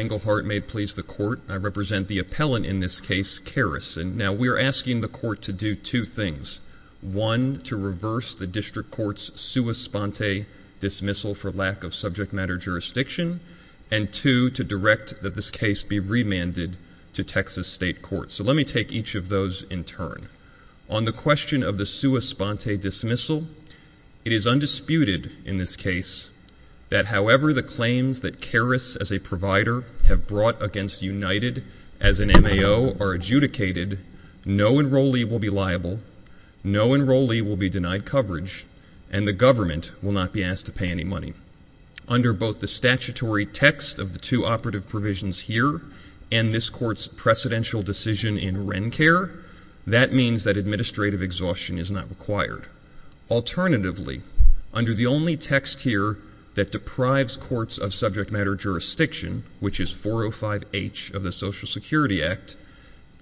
Englehart may please the court. I represent the appellant in this case, Caris. Now, we are asking the court to do two things. One, to reverse the district court's sua sponte dismissal for lack of subject matter jurisdiction, and two, to direct that this case be remanded to Texas state court. So let me take each of those in turn. On the question of the sua sponte dismissal, it is undisputed in this case that however the claims that Caris as a provider have brought against United as an M.A.O. are adjudicated, no enrollee will be liable, no enrollee will be denied coverage, and the government will not be asked to pay any money. Under both the statutory text of the two operative provisions here and this court's precedential decision in WrenCare, that means that administrative exhaustion is not required. Alternatively, under the only text here that deprives courts of subject matter jurisdiction, which is 405H of the Social Security Act,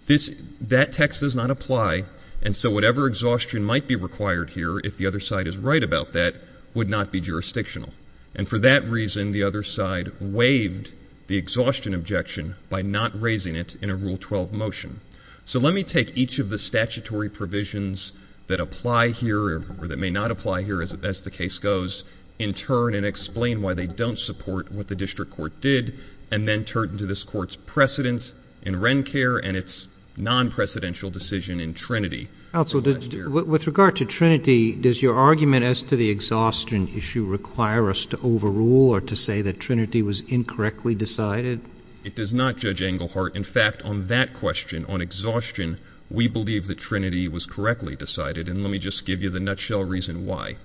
that text does not apply, and so whatever exhaustion might be required here, if the other side is right about that, would not be jurisdictional. And for that reason, the other side waived the exhaustion objection by not raising it in a Rule 12 motion. So let me take each of the statutory provisions that apply here or that may not apply here as the case goes, in turn, and explain why they don't support what the district court did, and then turn to this court's precedent in WrenCare and its non-precedential decision in Trinity. Also, with regard to Trinity, does your argument as to the exhaustion issue require us to overrule or to say that Trinity was incorrectly decided? It does not, Judge Englehart. In fact, on that question, on exhaustion, we believe that Trinity was correctly decided, and let me just give you the nutshell reason why.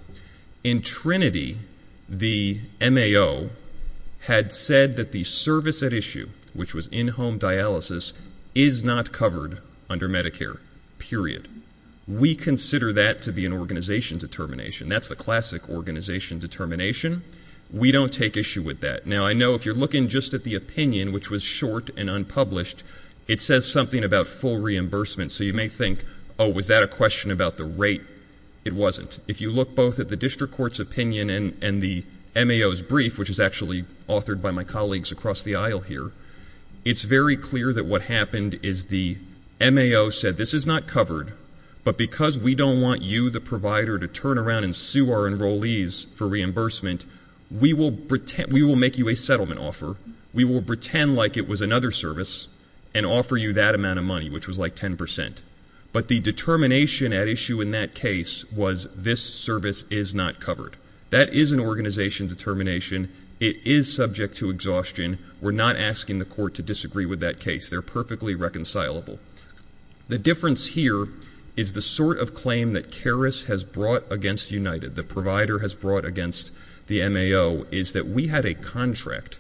In fact, the MAO had said that the service at issue, which was in-home dialysis, is not covered under Medicare, period. We consider that to be an organization determination. That's the classic organization determination. We don't take issue with that. Now, I know if you're looking just at the opinion, which was short and unpublished, it says something about full reimbursement, so you may think, oh, was that a question about the rate? It wasn't. If you look both at the district court's opinion and the MAO's brief, which is actually authored by my colleagues across the aisle here, it's very clear that what happened is the MAO said, this is not covered, but because we don't want you, the provider, to turn around and sue our enrollees for reimbursement, we will make you a settlement offer, we will pretend like it was another service, and offer you that amount of money, which was like 10 percent. But the determination at issue in that case was this service is not covered. That is an organization determination. It is subject to exhaustion. We're not asking the court to disagree with that case. They're perfectly reconcilable. The difference here is the sort of claim that CARIS has brought against United, the provider has brought against the MAO, is that we had a contract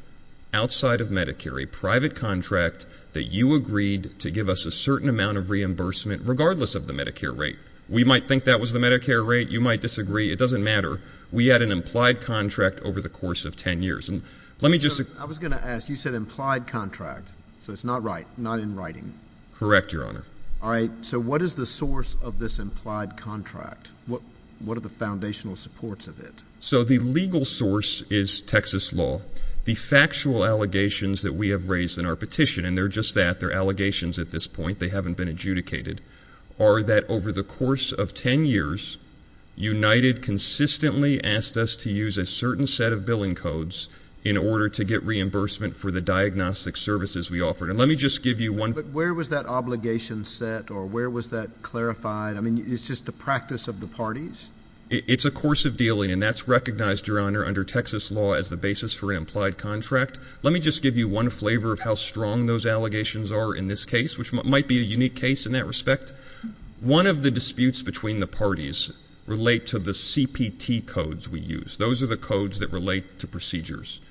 outside of Medicare, a private contract, that you agreed to give us a certain amount of reimbursement, regardless of the Medicare rate. We might think that was the Medicare rate. You might disagree. It doesn't matter. We had an implied contract over the course of 10 years, and let me just I was going to ask, you said implied contract, so it's not right, not in writing. Correct, Your Honor. All right, so what is the source of this implied contract? What are the foundational supports of it? So the legal source is Texas law. The factual allegations that we have raised in our petition, and they're just that, they're allegations at this point, they haven't been adjudicated, are that over the course of 10 years, United consistently asked us to use a certain set of billing codes in order to get reimbursement for the diagnostic services we offered. And let me just give you one But where was that obligation set, or where was that clarified? I mean, it's just the practice of the parties? It's a course of dealing, and that's recognized, Your Honor, under Texas law as the basis for an implied contract. Let me just give you one flavor of how strong those allegations are in this case, which might be a unique case in that respect. One of the disputes between the parties relate to the CPT codes we use. Those are the codes that relate to procedures.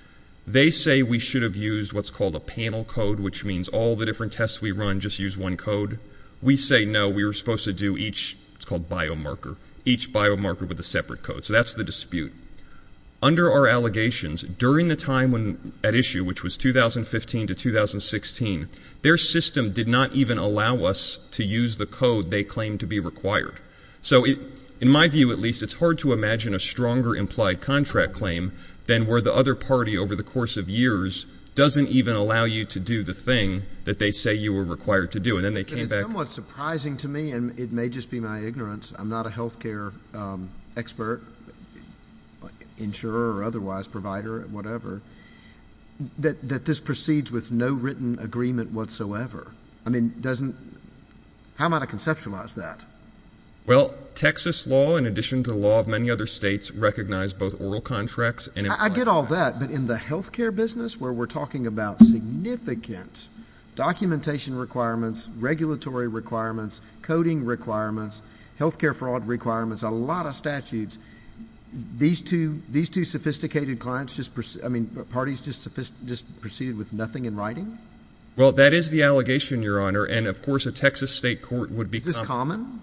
They say we should have used what's called a panel code, which means all the different tests we run just use one code. We say no, we were supposed to do each, it's called biomarker, each biomarker with a separate code. So that's the dispute. Under our allegations, during the time at issue, which was 2015 to 2016, their system did not even allow us to use the code they claimed to be required. So in my view, at least, it's hard to imagine a stronger implied contract claim than where the other party over the course of years doesn't even allow you to do the thing that they say you were required to do. And then they came back It's somewhat surprising to me, and it may just be my ignorance, I'm not a health care expert, insurer or otherwise, provider, whatever, that this proceeds with no written agreement whatsoever. I mean, how am I to conceptualize that? Well, Texas law, in addition to the law of many other states, recognized both oral contracts and implied contracts. I get all that, but in the health care business, where we're talking about significant documentation requirements, regulatory requirements, coding requirements, health care fraud requirements, a lot of statutes, these two sophisticated parties just proceeded with nothing in writing? Well, that is the allegation, Your Honor, and of course a Texas state court would be Is this common?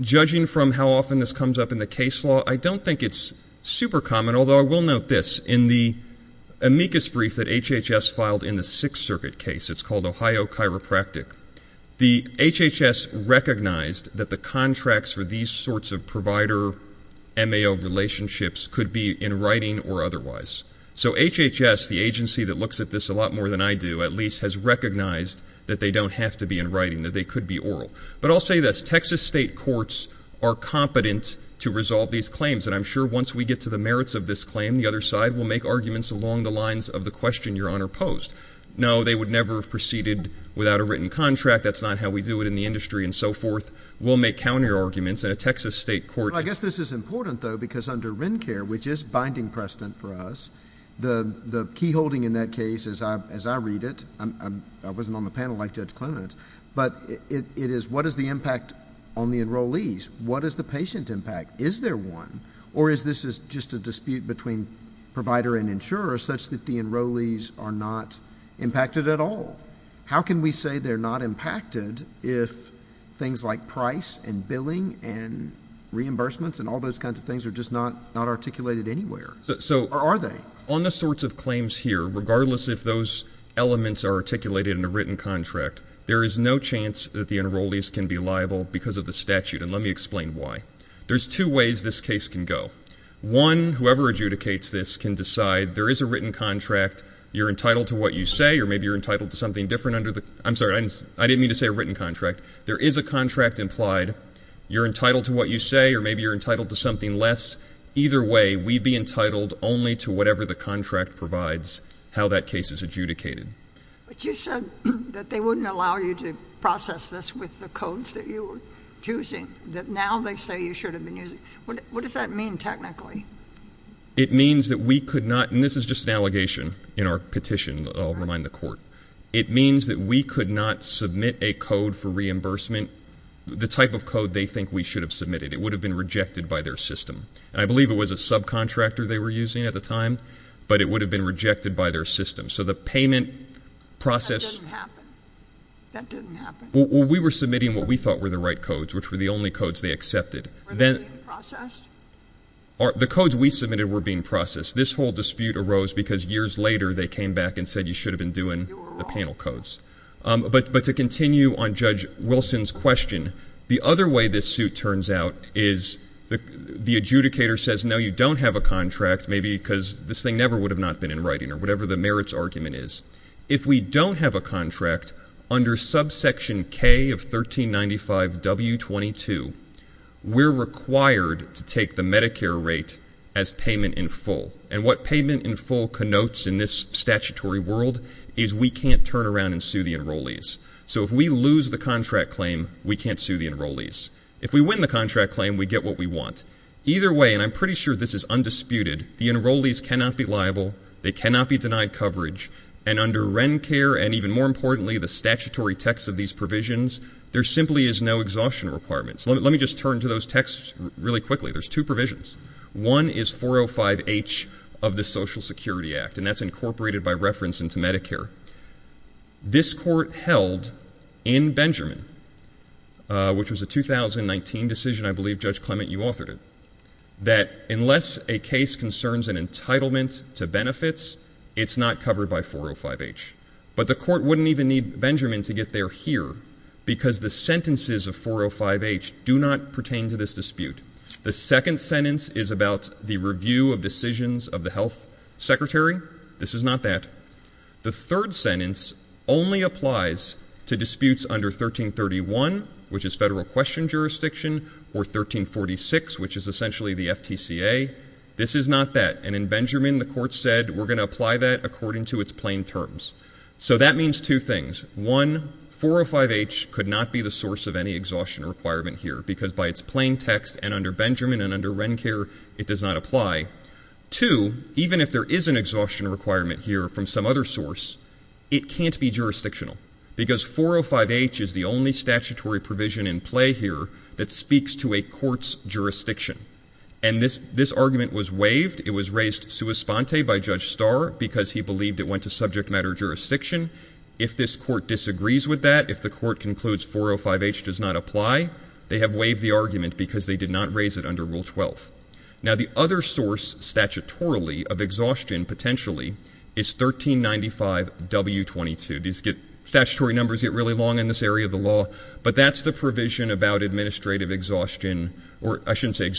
Judging from how often this comes up in the case law, I don't think it's super common, although I will note this, in the amicus brief that HHS filed in the Sixth Circuit case, it's called Ohio Chiropractic, the HHS recognized that the contracts for these sorts of provider MAO relationships could be in writing or otherwise. So HHS, the agency that looks at this a lot more than I do, at least, has recognized that they don't have to be in writing, that they could be oral. But I'll say this, Texas state courts are competent to resolve these claims, and I'm sure once we get to the merits of this claim, the other side will make arguments along the question Your Honor posed. No, they would never have proceeded without a written contract. That's not how we do it in the industry and so forth. We'll make counterarguments, and a Texas state court Well, I guess this is important, though, because under WrenCare, which is binding precedent for us, the key holding in that case, as I read it, I wasn't on the panel like Judge Clement, but it is what is the impact on the enrollees? What is the patient impact? Is there one? Or is this just a dispute between provider and insurer such that the enrollees are not impacted at all? How can we say they're not impacted if things like price and billing and reimbursements and all those kinds of things are just not articulated anywhere, or are they? On the sorts of claims here, regardless if those elements are articulated in a written contract, there is no chance that the enrollees can be liable because of the statute, and let me explain why. There's two ways this case can go. One, whoever adjudicates this can decide there is a written contract. You're entitled to what you say, or maybe you're entitled to something different under the I'm sorry, I didn't mean to say a written contract. There is a contract implied. You're entitled to what you say, or maybe you're entitled to something less. Either way, we'd be entitled only to whatever the contract provides, how that case is adjudicated. But you said that they wouldn't allow you to process this with the codes that you were using, that now they say you should have been using. What does that mean technically? It means that we could not, and this is just an allegation in our petition that I'll remind the court. It means that we could not submit a code for reimbursement, the type of code they think we should have submitted. It would have been rejected by their system, and I believe it was a subcontractor they were using at the time, but it would have been rejected by their system. So the payment process That didn't happen. That didn't happen. Well, we were submitting what we thought were the right codes, which were the only codes they accepted. Were they being processed? The codes we submitted were being processed. This whole dispute arose because years later they came back and said you should have been doing the panel codes. But to continue on Judge Wilson's question, the other way this suit turns out is the adjudicator says no, you don't have a contract, maybe because this thing never would have not been in writing, or whatever the merits argument is. If we don't have a contract, under subsection K of 1395W22, we're required to take the Medicare rate as payment in full. And what payment in full connotes in this statutory world is we can't turn around and sue the enrollees. So if we lose the contract claim, we can't sue the enrollees. If we win the contract claim, we get what we want. Either way, and I'm pretty sure this is undisputed, the enrollees cannot be liable, they cannot be sued. And under RENCARE, and even more importantly, the statutory text of these provisions, there simply is no exhaustion requirement. Let me just turn to those texts really quickly. There's two provisions. One is 405H of the Social Security Act, and that's incorporated by reference into Medicare. This court held in Benjamin, which was a 2019 decision, I believe, Judge Clement, you authored it, that unless a case concerns an entitlement to benefits, it's not covered by 405H. But the court wouldn't even need Benjamin to get there here, because the sentences of 405H do not pertain to this dispute. The second sentence is about the review of decisions of the health secretary. This is not that. The third sentence only applies to disputes under 1331, which is federal question jurisdiction, or 1346, which is essentially the FTCA. This is not that. And in Benjamin, the court said, we're going to apply that according to its plain terms. So that means two things. One, 405H could not be the source of any exhaustion requirement here, because by its plain text and under Benjamin and under RENCARE, it does not apply. Two, even if there is an exhaustion requirement here from some other source, it can't be jurisdictional, because 405H is the only statutory provision in play here that speaks to a court's jurisdiction. And this argument was waived. It was raised sua sponte by Judge Starr, because he believed it went to subject matter jurisdiction. If this court disagrees with that, if the court concludes 405H does not apply, they have waived the argument, because they did not raise it under Rule 12. Now the other source, statutorily, of exhaustion, potentially, is 1395W22. Statutory numbers get really long in this area of the law, but that's the provision about administrative exhaustion, or I shouldn't say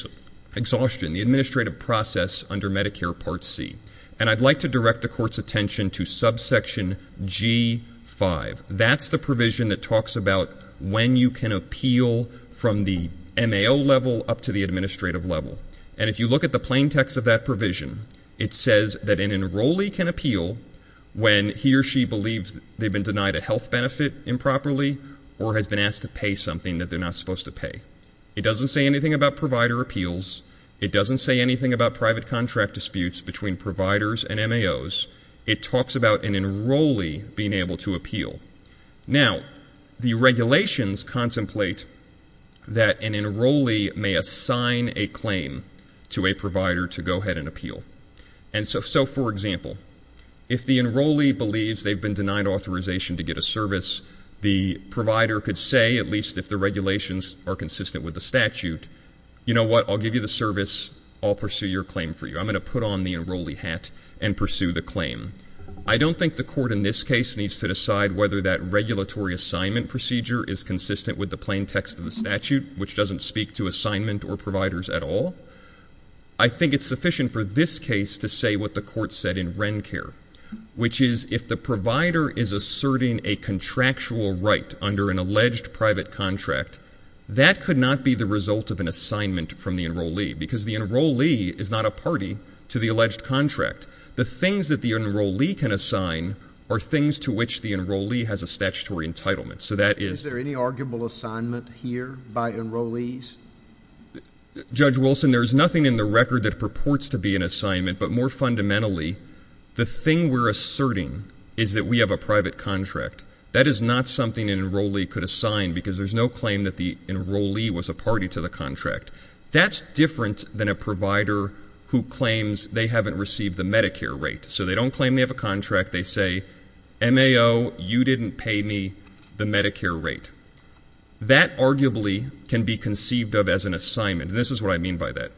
exhaustion, the administrative process under Medicare Part C. And I'd like to direct the court's attention to subsection G5. That's the provision that talks about when you can appeal from the MAO level up to the administrative level. And if you look at the plain text of that provision, it says that an enrollee can appeal when he or she believes they've been denied a health benefit improperly or has been asked to pay something that they're not supposed to pay. It doesn't say anything about provider appeals. It doesn't say anything about private contract disputes between providers and MAOs. It talks about an enrollee being able to appeal. Now the regulations contemplate that an enrollee may assign a claim to a provider to go ahead and appeal. And so, for example, if the enrollee believes they've been denied authorization to get a service, the provider could say, at least if the regulations are consistent with the statute, you know what, I'll give you the service, I'll pursue your claim for you. I'm going to put on the enrollee hat and pursue the claim. I don't think the court in this case needs to decide whether that regulatory assignment procedure is consistent with the plain text of the statute, which doesn't speak to assignment or providers at all. I think it's sufficient for this case to say what the court said in WrenCare, which is if the provider is asserting a contractual right under an alleged private contract, that could not be the result of an assignment from the enrollee, because the enrollee is not a party to the alleged contract. The things that the enrollee can assign are things to which the enrollee has a statutory entitlement. So that is... Is there any arguable assignment here by enrollees? Judge Wilson, there is nothing in the record that purports to be an assignment, but more fundamentally the thing we're asserting is that we have a private contract. That is not something an enrollee could assign, because there's no claim that the enrollee was a party to the contract. That's different than a provider who claims they haven't received the Medicare rate. So they don't claim they have a contract, they say, MAO, you didn't pay me the Medicare rate. That arguably can be conceived of as an assignment, and this is what I mean by that.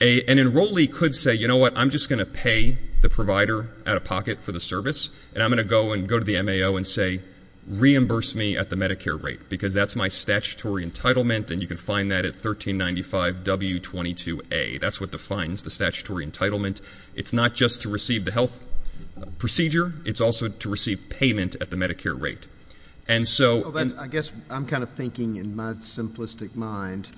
An enrollee could say, you know what, I'm just going to pay the provider out of pocket for the service, and I'm going to go to the MAO and say, reimburse me at the Medicare rate, because that's my statutory entitlement, and you can find that at 1395W22A. That's what defines the statutory entitlement. It's not just to receive the health procedure, it's also to receive payment at the Medicare rate. I guess I'm kind of thinking in my simplistic mind,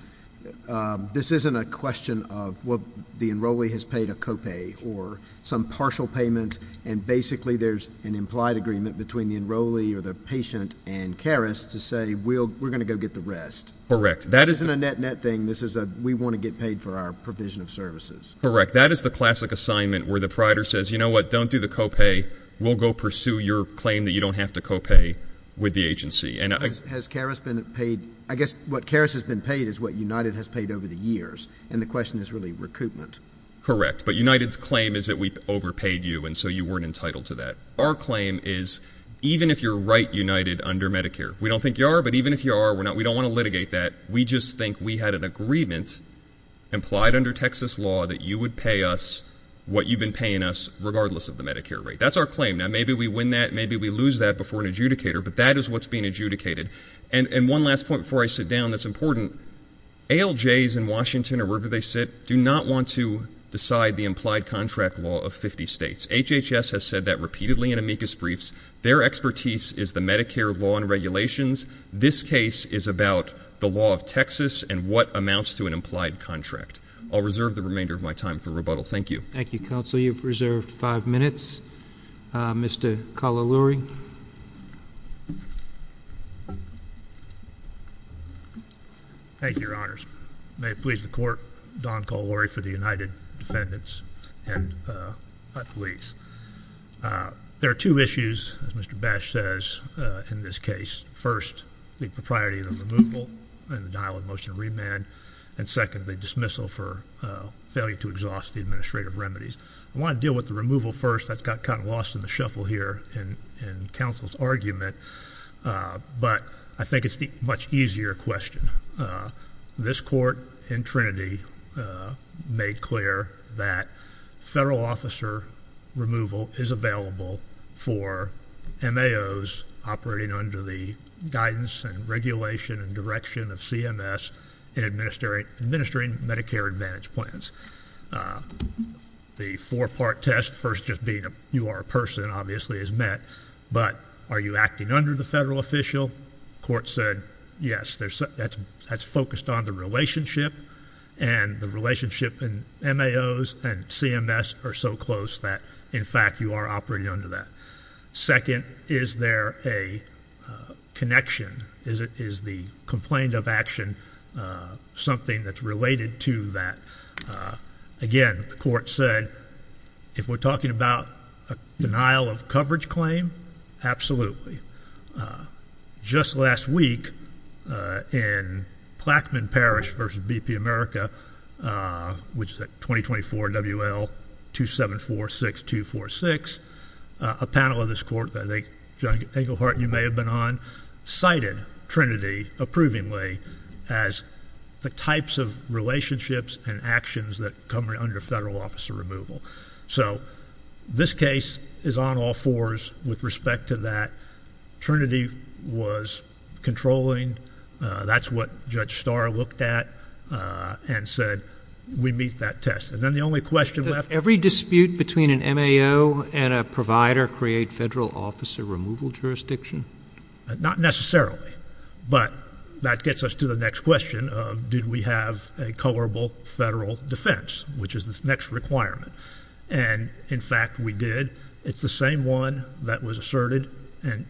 this isn't a question of the enrollee has paid a copay or some partial payment, and basically there's an implied agreement between the enrollee or the patient and CARIS to say, we're going to go get the rest. Correct. This isn't a net-net thing, this is a, we want to get paid for our provision of services. Correct. That is the classic assignment where the provider says, you know what, don't do the copay, we'll go pursue your claim that you don't have to copay with the agency. Has CARIS been paid? I guess what CARIS has been paid is what United has paid over the years, and the question is really recoupment. Correct. But United's claim is that we overpaid you, and so you weren't entitled to that. Our claim is, even if you're right, United, under Medicare, we don't think you are, but even if you are, we don't want to litigate that, we just think we had an agreement implied under Texas law that you would pay us what you've been paying us regardless of the Medicare rate. Correct. That's our claim. Now, maybe we win that, maybe we lose that before an adjudicator, but that is what's being adjudicated. And one last point before I sit down that's important, ALJs in Washington or wherever they sit do not want to decide the implied contract law of 50 states. HHS has said that repeatedly in amicus briefs. Their expertise is the Medicare law and regulations. This case is about the law of Texas and what amounts to an implied contract. I'll reserve the remainder of my time for rebuttal. Thank you. Thank you, counsel. Counsel, you've reserved five minutes. Mr. Cololuri. Thank you, Your Honors. May it please the Court, Don Cololuri for the United Defendants and my police. There are two issues, as Mr. Bash says, in this case. First, the propriety of the removal and denial of motion of remand, and second, the dismissal for failure to exhaust the administrative remedies. I want to deal with the removal first. That got kind of lost in the shuffle here in counsel's argument, but I think it's the much easier question. This Court in Trinity made clear that federal officer removal is available for MAOs operating under the guidance and regulation and direction of CMS in administering Medicare Advantage plans. The four-part test, first just being you are a person, obviously, is met, but are you acting under the federal official? Court said, yes, that's focused on the relationship, and the relationship in MAOs and CMS are so close that, in fact, you are operating under that. Second, is there a connection? Is the complaint of action something that's related to that? Again, the Court said, if we're talking about a denial of coverage claim, absolutely. Just last week, in Plaquemine Parish v. BP America, which is at 2024 WL 2746246, a panel of this Court that I think, John Englehart, you may have been on, cited Trinity approvingly as the types of relationships and actions that come under federal officer removal. So this case is on all fours with respect to that. Trinity was controlling. That's what Judge Starr looked at and said, we meet that test. And then the only question left... Does every dispute between an MAO and a provider create federal officer removal jurisdiction? Not necessarily, but that gets us to the next question of did we have a colorable federal defense, which is the next requirement? And in fact, we did. It's the same one that was asserted and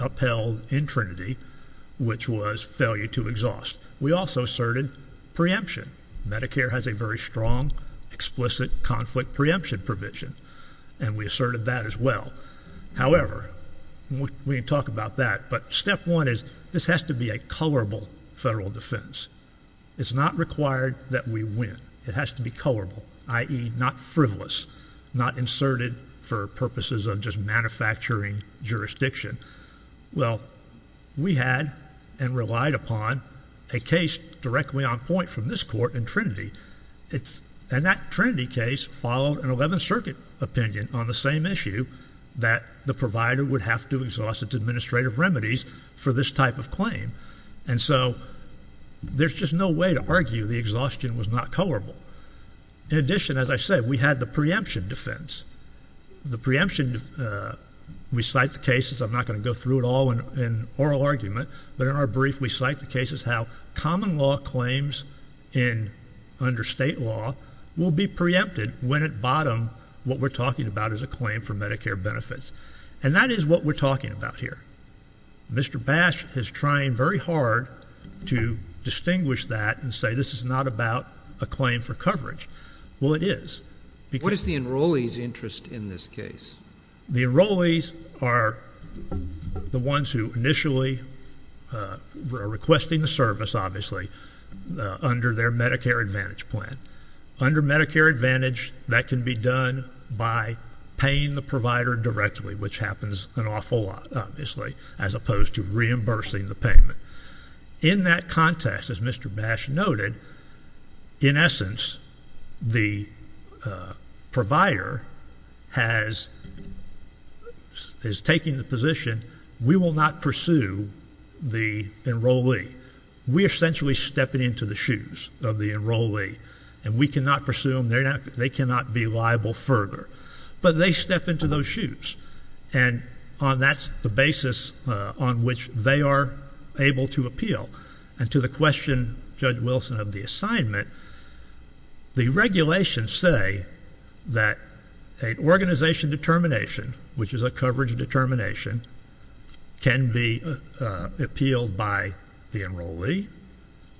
upheld in Trinity, which was failure to exhaust. We also asserted preemption. Medicare has a very strong, explicit conflict preemption provision, and we asserted that as well. However, we can talk about that, but step one is this has to be a colorable federal defense. It's not required that we win. It has to be colorable, i.e., not frivolous, not inserted for purposes of just manufacturing jurisdiction. Well, we had and relied upon a case directly on point from this Court in Trinity, and that Trinity case followed an Eleventh Circuit opinion on the same issue, that the provider would have to exhaust its administrative remedies for this type of claim. And so, there's just no way to argue the exhaustion was not colorable. In addition, as I said, we had the preemption defense. The preemption, we cite the cases, I'm not going to go through it all in oral argument, but in our brief, we cite the cases how common law claims under state law will be preempted when at bottom, what we're talking about is a claim for Medicare benefits. And that is what we're talking about here. Mr. Bash is trying very hard to distinguish that and say this is not about a claim for coverage. Well, it is. What is the enrollees' interest in this case? The enrollees are the ones who initially are requesting the service, obviously, under their Medicare Advantage plan. Under Medicare Advantage, that can be done by paying the provider directly, which happens an awful lot, obviously, as opposed to reimbursing the payment. In that context, as Mr. Bash noted, in essence, the provider has, is taking the position, we will not pursue the enrollee. We essentially step it into the shoes of the enrollee, and we cannot pursue them. They cannot be liable further. But they step into those shoes. And that's the basis on which they are able to appeal. And to the question, Judge Wilson, of the assignment, the regulations say that an organization determination, which is a coverage determination, can be appealed by the enrollee.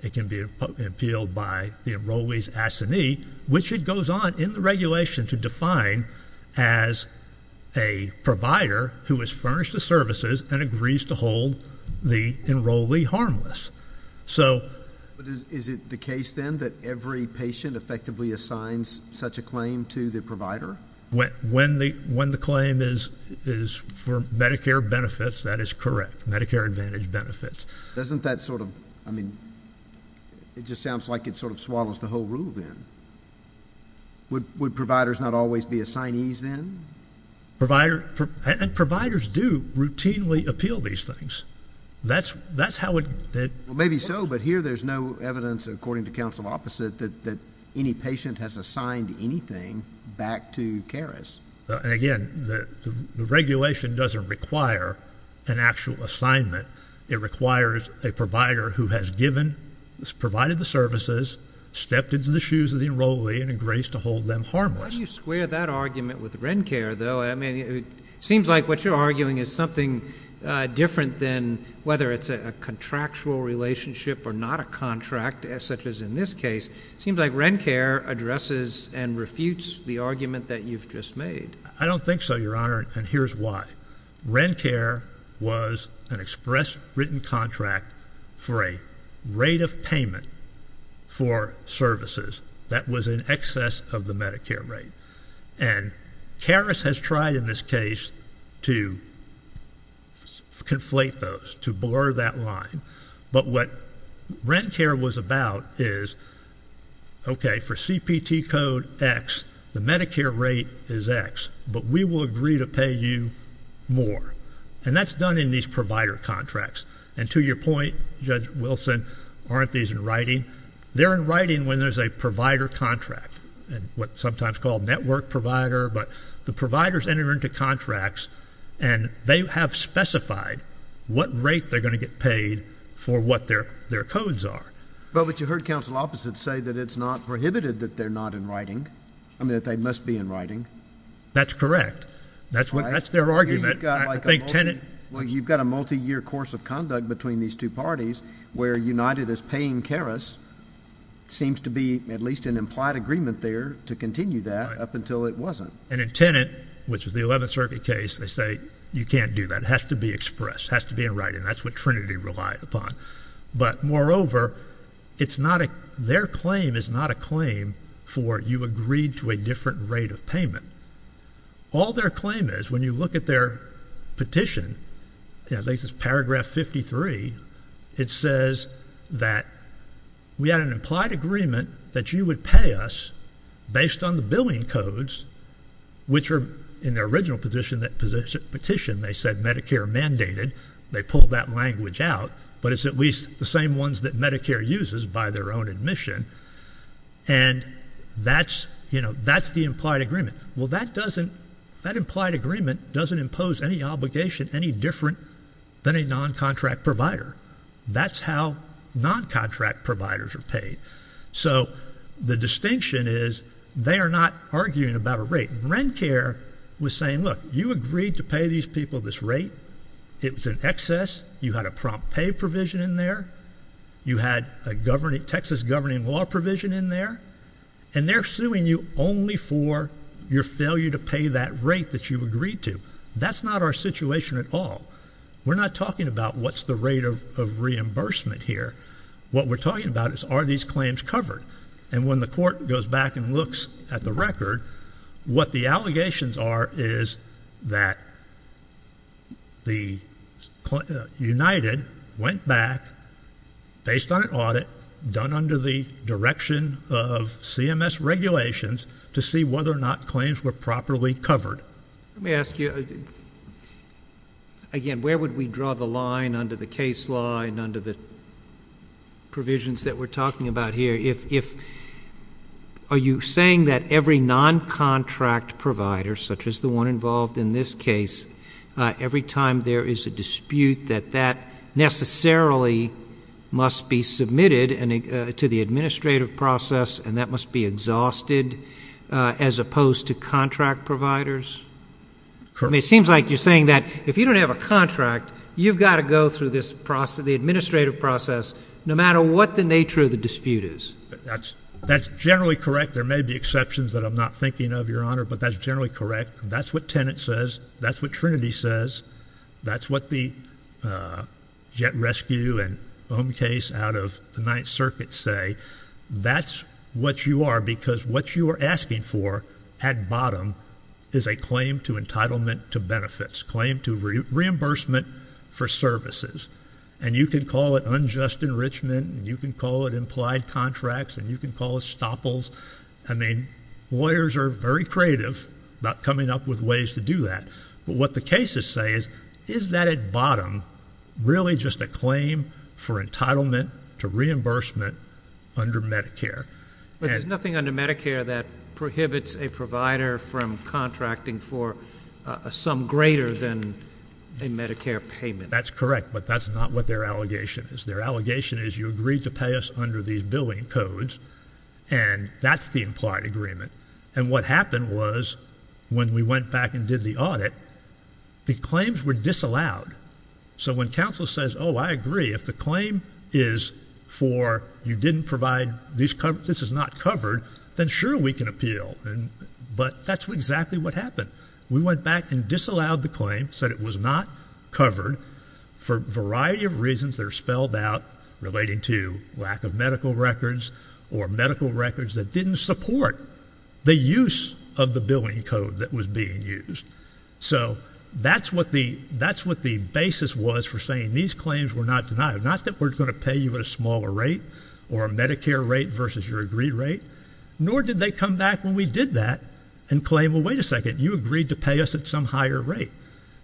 It can be appealed by the enrollee's assignee, which it goes on in the regulation to define as a provider who has furnished the services and agrees to hold the enrollee harmless. So But is it the case, then, that every patient effectively assigns such a claim to the provider? When the claim is for Medicare benefits, that is correct, Medicare Advantage benefits. Doesn't that sort of, I mean, it just sounds like it sort of swallows the whole rule, then. Would providers not always be assignees, then? Provider, and providers do routinely appeal these things. That's how it Well, maybe so, but here there's no evidence, according to counsel opposite, that any patient has assigned anything back to CARES. And again, the regulation doesn't require an actual assignment. It requires a provider who has given, has provided the services, stepped into the shoes of the enrollee and agrees to hold them harmless. How do you square that argument with RENCARE, though? I mean, it seems like what you're arguing is something different than whether it's a contractual relationship or not a contract, such as in this case. It seems like RENCARE addresses and refutes the argument that you've just made. I don't think so, Your Honor, and here's why. RENCARE was an express written contract for a rate of payment for services that was in excess of the Medicare rate, and CARES has tried in this case to conflate those, to blur that line. But what RENCARE was about is, okay, for CPT code X, the Medicare rate is X, but we will agree to pay you more. And that's done in these provider contracts. And to your point, Judge Wilson, aren't these in writing? They're in writing when there's a provider contract, and what's sometimes called network provider, but the providers enter into contracts and they have specified what rate they're going to get paid for what their codes are. But you heard counsel opposite say that it's not prohibited that they're not in writing, I mean, that they must be in writing. That's correct. That's their argument. Here you've got a multi-year course of conduct between these two parties where United is paying CARES, seems to be at least an implied agreement there to continue that up until it wasn't. And in Tenet, which was the 11th Circuit case, they say you can't do that, it has to be expressed, has to be in writing. That's what Trinity relied upon. But moreover, it's not a, their claim is not a claim for you agreed to a different rate of payment. All their claim is, when you look at their petition, at least it's paragraph 53, it says that we had an implied agreement that you would pay us based on the billing codes, which are in the original petition, they said Medicare mandated, they pulled that language out. But it's at least the same ones that Medicare uses by their own admission. And that's, you know, that's the implied agreement. Well, that doesn't, that implied agreement doesn't impose any obligation any different than a non-contract provider. That's how non-contract providers are paid. So the distinction is, they are not arguing about a rate. Rencare was saying, look, you agreed to pay these people this rate, it was in excess, you had a prompt pay provision in there, you had a Texas governing law provision in there, and they're suing you only for your failure to pay that rate that you agreed to. That's not our situation at all. We're not talking about what's the rate of reimbursement here. What we're talking about is, are these claims covered? And when the court goes back and looks at the record, what the allegations are is that the United went back, based on an audit, done under the direction of CMS regulations to see whether or not claims were properly covered. Let me ask you, again, where would we draw the line under the case law and under the provisions that we're talking about here? If, are you saying that every non-contract provider, such as the one involved in this case, every time there is a dispute, that that necessarily must be submitted to the administrative process and that must be exhausted, as opposed to contract providers? I mean, it seems like you're saying that if you don't have a contract, you've got to go through the administrative process, no matter what the nature of the dispute is. That's generally correct. There may be exceptions that I'm not thinking of, Your Honor, but that's generally correct. That's what Tenet says. That's what Trinity says. That's what the Jet Rescue and Ohm case out of the Ninth Circuit say. That's what you are, because what you are asking for at bottom is a claim to entitlement to benefits, claim to reimbursement for services. And you can call it unjust enrichment, and you can call it implied contracts, and you can call it stoppals. I mean, lawyers are very creative about coming up with ways to do that. But what the cases say is, is that at bottom really just a claim for entitlement to reimbursement under Medicare? But there's nothing under Medicare that prohibits a provider from contracting for a sum greater than a Medicare payment. That's correct, but that's not what their allegation is. Their allegation is you agreed to pay us under these billing codes, and that's the implied agreement. And what happened was, when we went back and did the audit, the claims were disallowed. So when counsel says, oh, I agree, if the claim is for you didn't provide, this is not covered, then sure, we can appeal. But that's exactly what happened. We went back and disallowed the claim, said it was not covered for a variety of reasons that are spelled out, relating to lack of medical records or medical records that didn't support the use of the billing code that was being used. So that's what the basis was for saying these claims were not denied. Not that we're going to pay you at a smaller rate or a Medicare rate versus your agreed rate, nor did they come back when we did that and claim, well, wait a second, you agreed to pay us at some higher rate.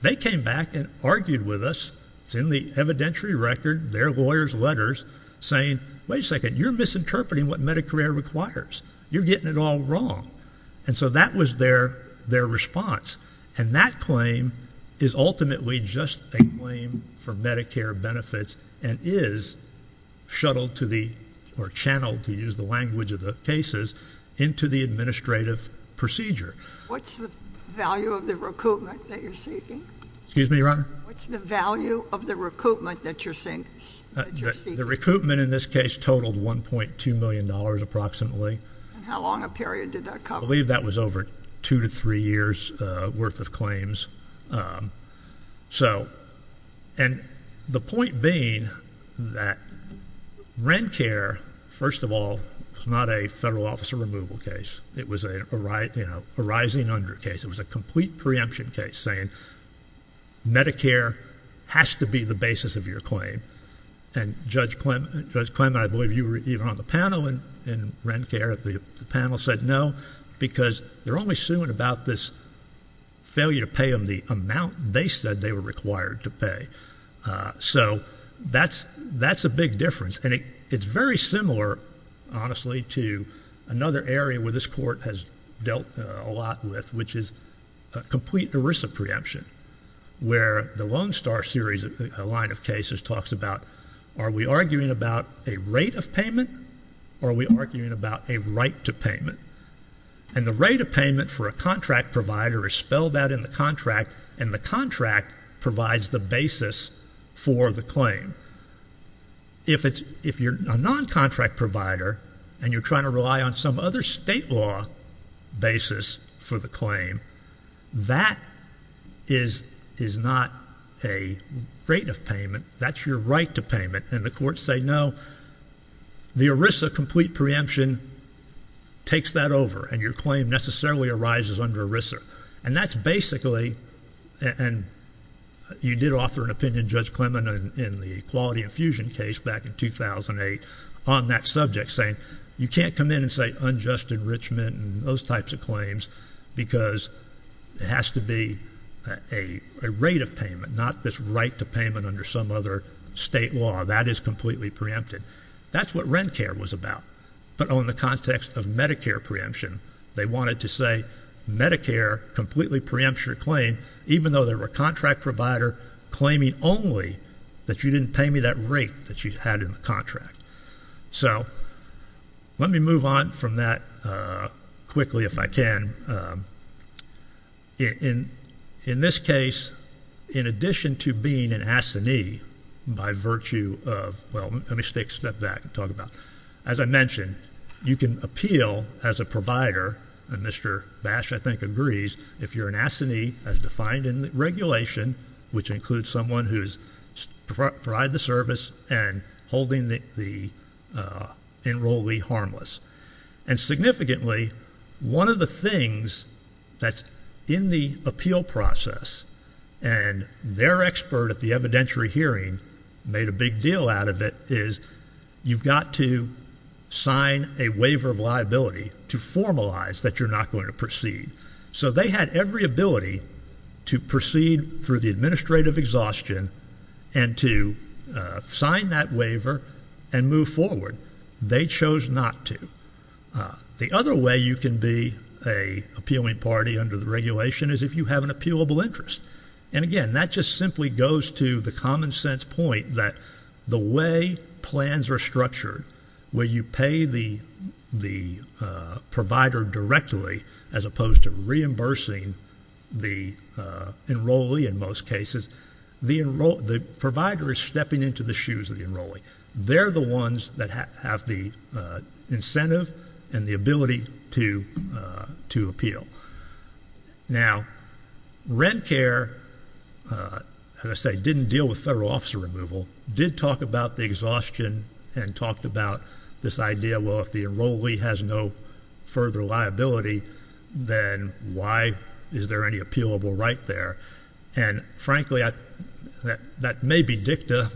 They came back and argued with us. It's in the evidentiary record, their lawyer's letters, saying, wait a second, you're misinterpreting what Medicare requires. You're getting it all wrong. And so that was their response. And that claim is ultimately just a claim for Medicare benefits and is channeled, to use the language of the cases, into the administrative procedure. What's the value of the recoupment that you're seeking? Excuse me, Your Honor? What's the value of the recoupment that you're seeking? The recoupment in this case totaled $1.2 million, approximately. And how long a period did that cover? I believe that was over two to three years worth of claims. And the point being that RENCARE, first of all, was not a federal officer removal case. It was a rising under case. It was a complete preemption case saying, Medicare has to be the basis of your claim. And Judge Clement, I believe you were even on the panel in RENCARE, the panel said no, because they're only suing about this failure to pay them the amount they said they were required to pay. So that's a big difference. And it's very similar, honestly, to another area where this court has dealt a lot with, which is a complete ERISA preemption, where the Lone Star series, a line of cases, talks about are we arguing about a rate of payment, or are we arguing about a right to payment? And the rate of payment for a contract provider is spelled out in the contract, and the contract provides the basis for the claim. If you're a non-contract provider, and you're trying to rely on some other state law basis for the claim, that is not a rate of payment, that's your right to payment. And the courts say, no, the ERISA complete preemption takes that over, and your claim necessarily arises under ERISA. And that's basically, and you did offer an opinion, Judge Clement, in the Equality Infusion case back in 2008 on that subject, saying you can't come in and say unjust enrichment and those types of claims, because it has to be a rate of payment, not this right to payment under some other state law. That is completely preempted. That's what RENCARE was about. But on the context of Medicare preemption, they wanted to say, Medicare completely preempts your claim, even though they were a contract provider claiming only that you didn't pay me that rate that you had in the contract. So, let me move on from that quickly if I can. In this case, in addition to being an assignee by virtue of, well, let me step back and talk about. As I mentioned, you can appeal as a provider, and Mr. Bash I think agrees, if you're an assignee as defined in the regulation, which includes someone who's provide the service and holding the enrollee harmless. And significantly, one of the things that's in the appeal process, and their expert at the evidentiary hearing made a big deal out of it, is you've got to sign a waiver of liability to formalize that you're not going to proceed. So they had every ability to proceed through the administrative exhaustion and to sign that waiver and move forward. They chose not to. The other way you can be a appealing party under the regulation is if you have an appealable interest. And again, that just simply goes to the common sense point that the way plans are structured, where you pay the provider directly as opposed to reimbursing the enrollee in most cases, the provider is stepping into the shoes of the enrollee. They're the ones that have the incentive and the ability to appeal. Now, rent care, as I say, didn't deal with federal officer removal. Did talk about the exhaustion and talked about this idea, well, if the enrollee has no further liability, then why is there any appealable right there? And frankly, that may be dicta,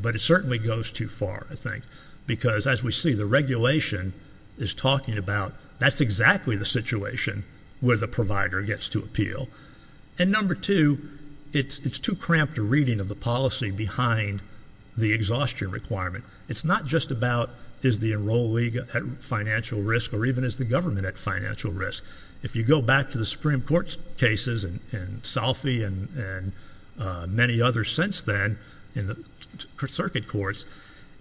but it certainly goes too far, I think. Because as we see, the regulation is talking about, that's exactly the situation where the provider gets to appeal. And number two, it's too cramped a reading of the policy behind the exhaustion requirement. It's not just about, is the enrollee at financial risk, or even is the government at financial risk? If you go back to the Supreme Court's cases, and Salfi and many others since then in the circuit courts,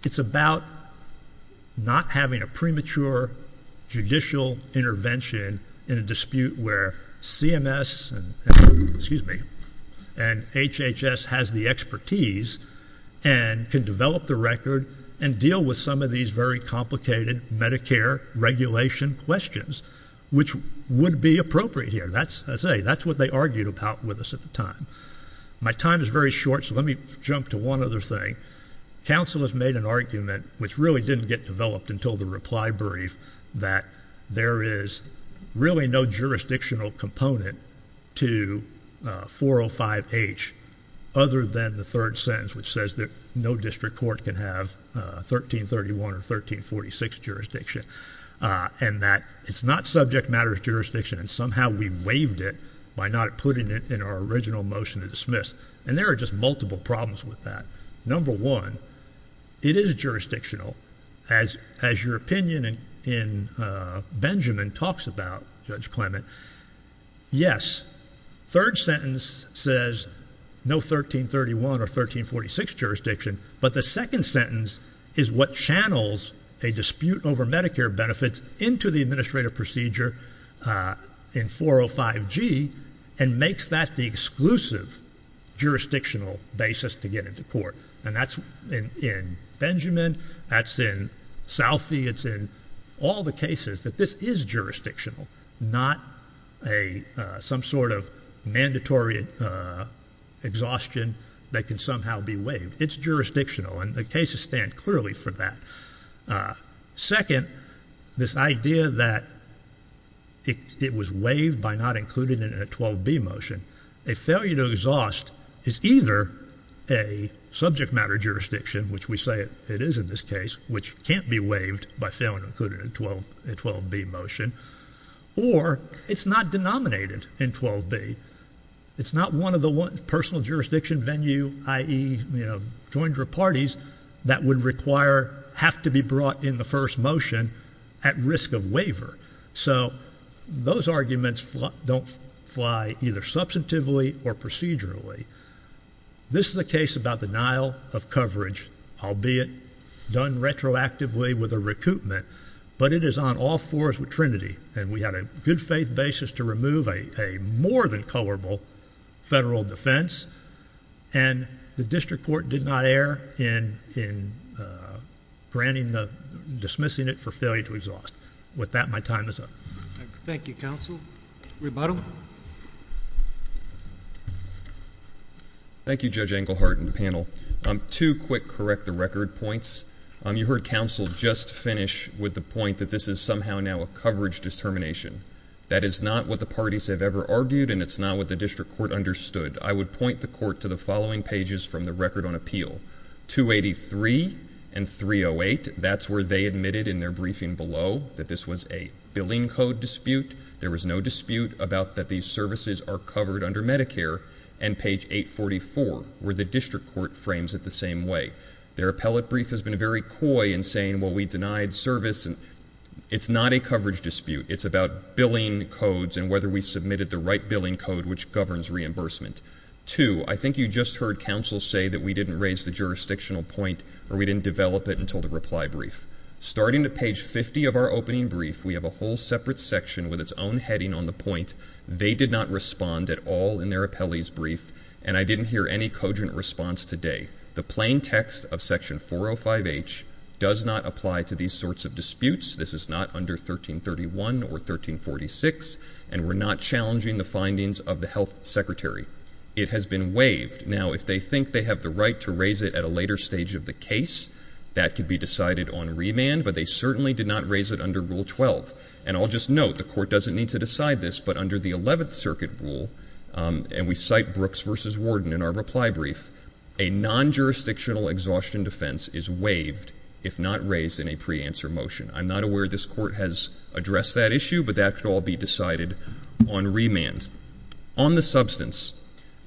it's about not having a premature judicial intervention in a dispute where CMS, excuse me, and HHS has the expertise and can develop the record and deal with some of these very complicated Medicare regulation questions, which would be appropriate here. And that's, I say, that's what they argued about with us at the time. My time is very short, so let me jump to one other thing. Council has made an argument, which really didn't get developed until the reply brief, that there is really no jurisdictional component to 405H other than the third sentence, which says that no district court can have 1331 or 1346 jurisdiction. And that it's not subject matter jurisdiction, and somehow we waived it by not putting it in our original motion to dismiss. And there are just multiple problems with that. Number one, it is jurisdictional, as your opinion in Benjamin talks about, Judge Clement. Yes, third sentence says no 1331 or 1346 jurisdiction, but the second sentence is what channels a dispute over Medicare benefits into the administrative procedure in 405G and makes that the exclusive jurisdictional basis to get into court. And that's in Benjamin, that's in Salfie, it's in all the cases that this is jurisdictional, it's jurisdictional, and the cases stand clearly for that. Second, this idea that it was waived by not including it in a 12B motion. A failure to exhaust is either a subject matter jurisdiction, which we say it is in this case, which can't be waived by failing to include it in a 12B motion. Or it's not denominated in 12B. It's not one of the personal jurisdiction venue, i.e. join your parties, that would require, have to be brought in the first motion at risk of waiver. So those arguments don't fly either substantively or procedurally. This is a case about denial of coverage, albeit done retroactively with a recoupment. And we had a good faith basis to remove a more than colorable federal defense. And the district court did not err in dismissing it for failure to exhaust. With that, my time is up. Thank you, counsel. Rebuttal. Thank you, Judge Englehart and the panel. Two quick correct the record points. You heard counsel just finish with the point that this is somehow now a coverage determination. That is not what the parties have ever argued and it's not what the district court understood. I would point the court to the following pages from the record on appeal. 283 and 308, that's where they admitted in their briefing below that this was a billing code dispute. There was no dispute about that these services are covered under Medicare. And page 844, where the district court frames it the same way. Their appellate brief has been very coy in saying, well, we denied service and it's not a coverage dispute. It's about billing codes and whether we submitted the right billing code which governs reimbursement. Two, I think you just heard counsel say that we didn't raise the jurisdictional point or we didn't develop it until the reply brief. Starting at page 50 of our opening brief, we have a whole separate section with its own heading on the point. They did not respond at all in their appellee's brief and I didn't hear any cogent response today. The plain text of section 405H does not apply to these sorts of disputes. This is not under 1331 or 1346, and we're not challenging the findings of the health secretary. It has been waived. Now, if they think they have the right to raise it at a later stage of the case, that could be decided on remand. But they certainly did not raise it under rule 12. And I'll just note, the court doesn't need to decide this, but under the 11th circuit rule, and we cite Brooks versus Warden in our reply brief, a non-jurisdictional exhaustion defense is waived if not raised in a pre-answer motion. I'm not aware this court has addressed that issue, but that could all be decided on remand. On the substance,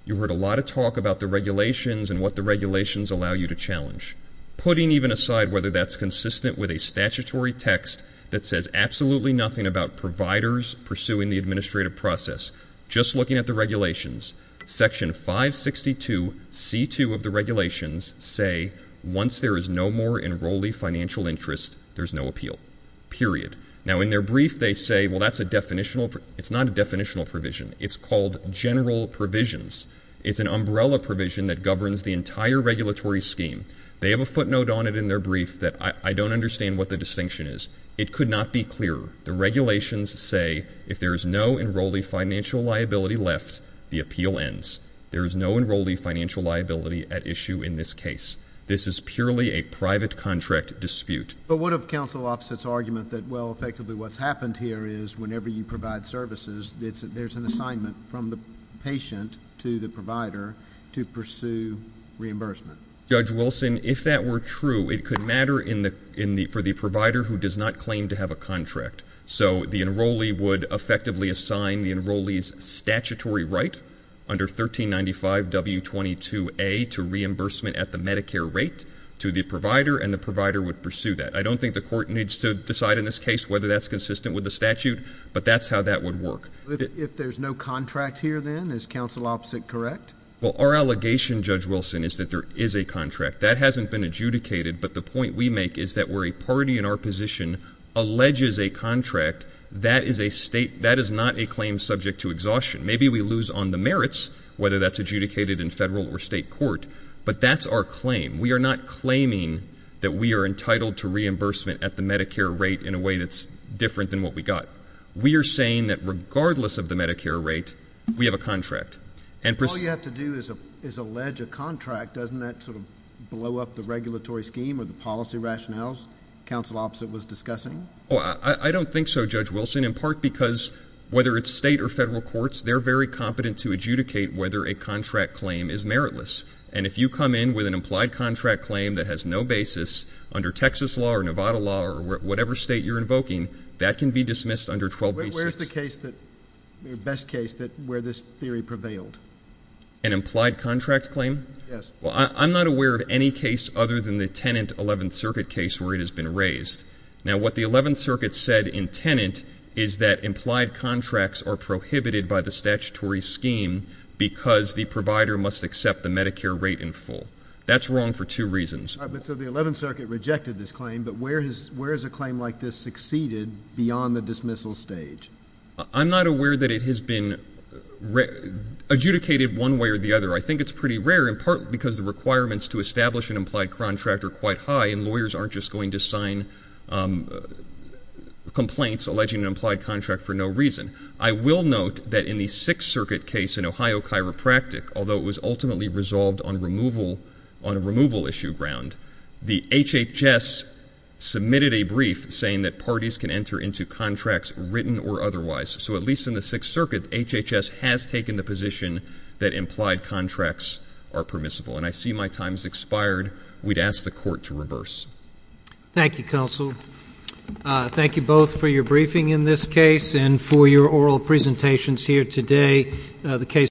you heard a lot of talk about the regulations and what the regulations allow you to challenge. Putting even aside whether that's consistent with a statutory text that says absolutely nothing about providers pursuing the administrative process. Just looking at the regulations, section 562C2 of the regulations say, once there is no more enrollee financial interest, there's no appeal, period. Now, in their brief, they say, well, that's a definitional, it's not a definitional provision. It's called general provisions. It's an umbrella provision that governs the entire regulatory scheme. They have a footnote on it in their brief that I don't understand what the distinction is. It could not be clearer. The regulations say, if there is no enrollee financial liability left, the appeal ends. There is no enrollee financial liability at issue in this case. This is purely a private contract dispute. But what of counsel opposite's argument that, well, effectively what's happened here is whenever you provide services, there's an assignment from the patient to the provider to pursue reimbursement. Judge Wilson, if that were true, it could matter for the provider who does not claim to have a contract. So the enrollee would effectively assign the enrollee's statutory right under 1395W22A to reimbursement at the Medicare rate to the provider, and the provider would pursue that. I don't think the court needs to decide in this case whether that's consistent with the statute, but that's how that would work. If there's no contract here, then, is counsel opposite correct? Well, our allegation, Judge Wilson, is that there is a contract. That hasn't been adjudicated, but the point we make is that where a party in our position alleges a contract, that is not a claim subject to exhaustion. Maybe we lose on the merits, whether that's adjudicated in federal or state court, but that's our claim. We are not claiming that we are entitled to reimbursement at the Medicare rate in a way that's different than what we got. We are saying that regardless of the Medicare rate, we have a contract. If all you have to do is allege a contract, doesn't that sort of blow up the regulatory scheme or the policy rationales counsel opposite was discussing? I don't think so, Judge Wilson, in part because whether it's state or federal courts, they're very competent to adjudicate whether a contract claim is meritless. And if you come in with an implied contract claim that has no basis under Texas law or Nevada law or whatever state you're invoking, that can be dismissed under 12B6. So where's the best case where this theory prevailed? An implied contract claim? Yes. Well, I'm not aware of any case other than the Tenant 11th Circuit case where it has been raised. Now, what the 11th Circuit said in Tenant is that implied contracts are prohibited by the statutory scheme because the provider must accept the Medicare rate in full. That's wrong for two reasons. So the 11th Circuit rejected this claim, but where has a claim like this succeeded beyond the dismissal stage? I'm not aware that it has been adjudicated one way or the other. I think it's pretty rare in part because the requirements to establish an implied contract are quite high, and lawyers aren't just going to sign complaints alleging an implied contract for no reason. I will note that in the Sixth Circuit case in Ohio Chiropractic, although it was ultimately resolved on a removal issue ground, the HHS submitted a brief saying that parties can enter into contracts written or otherwise. So at least in the Sixth Circuit, HHS has taken the position that implied contracts are permissible. And I see my time's expired. We'd ask the court to reverse. Thank you, Counsel. Thank you both for your briefing in this case and for your oral presentations here today. The case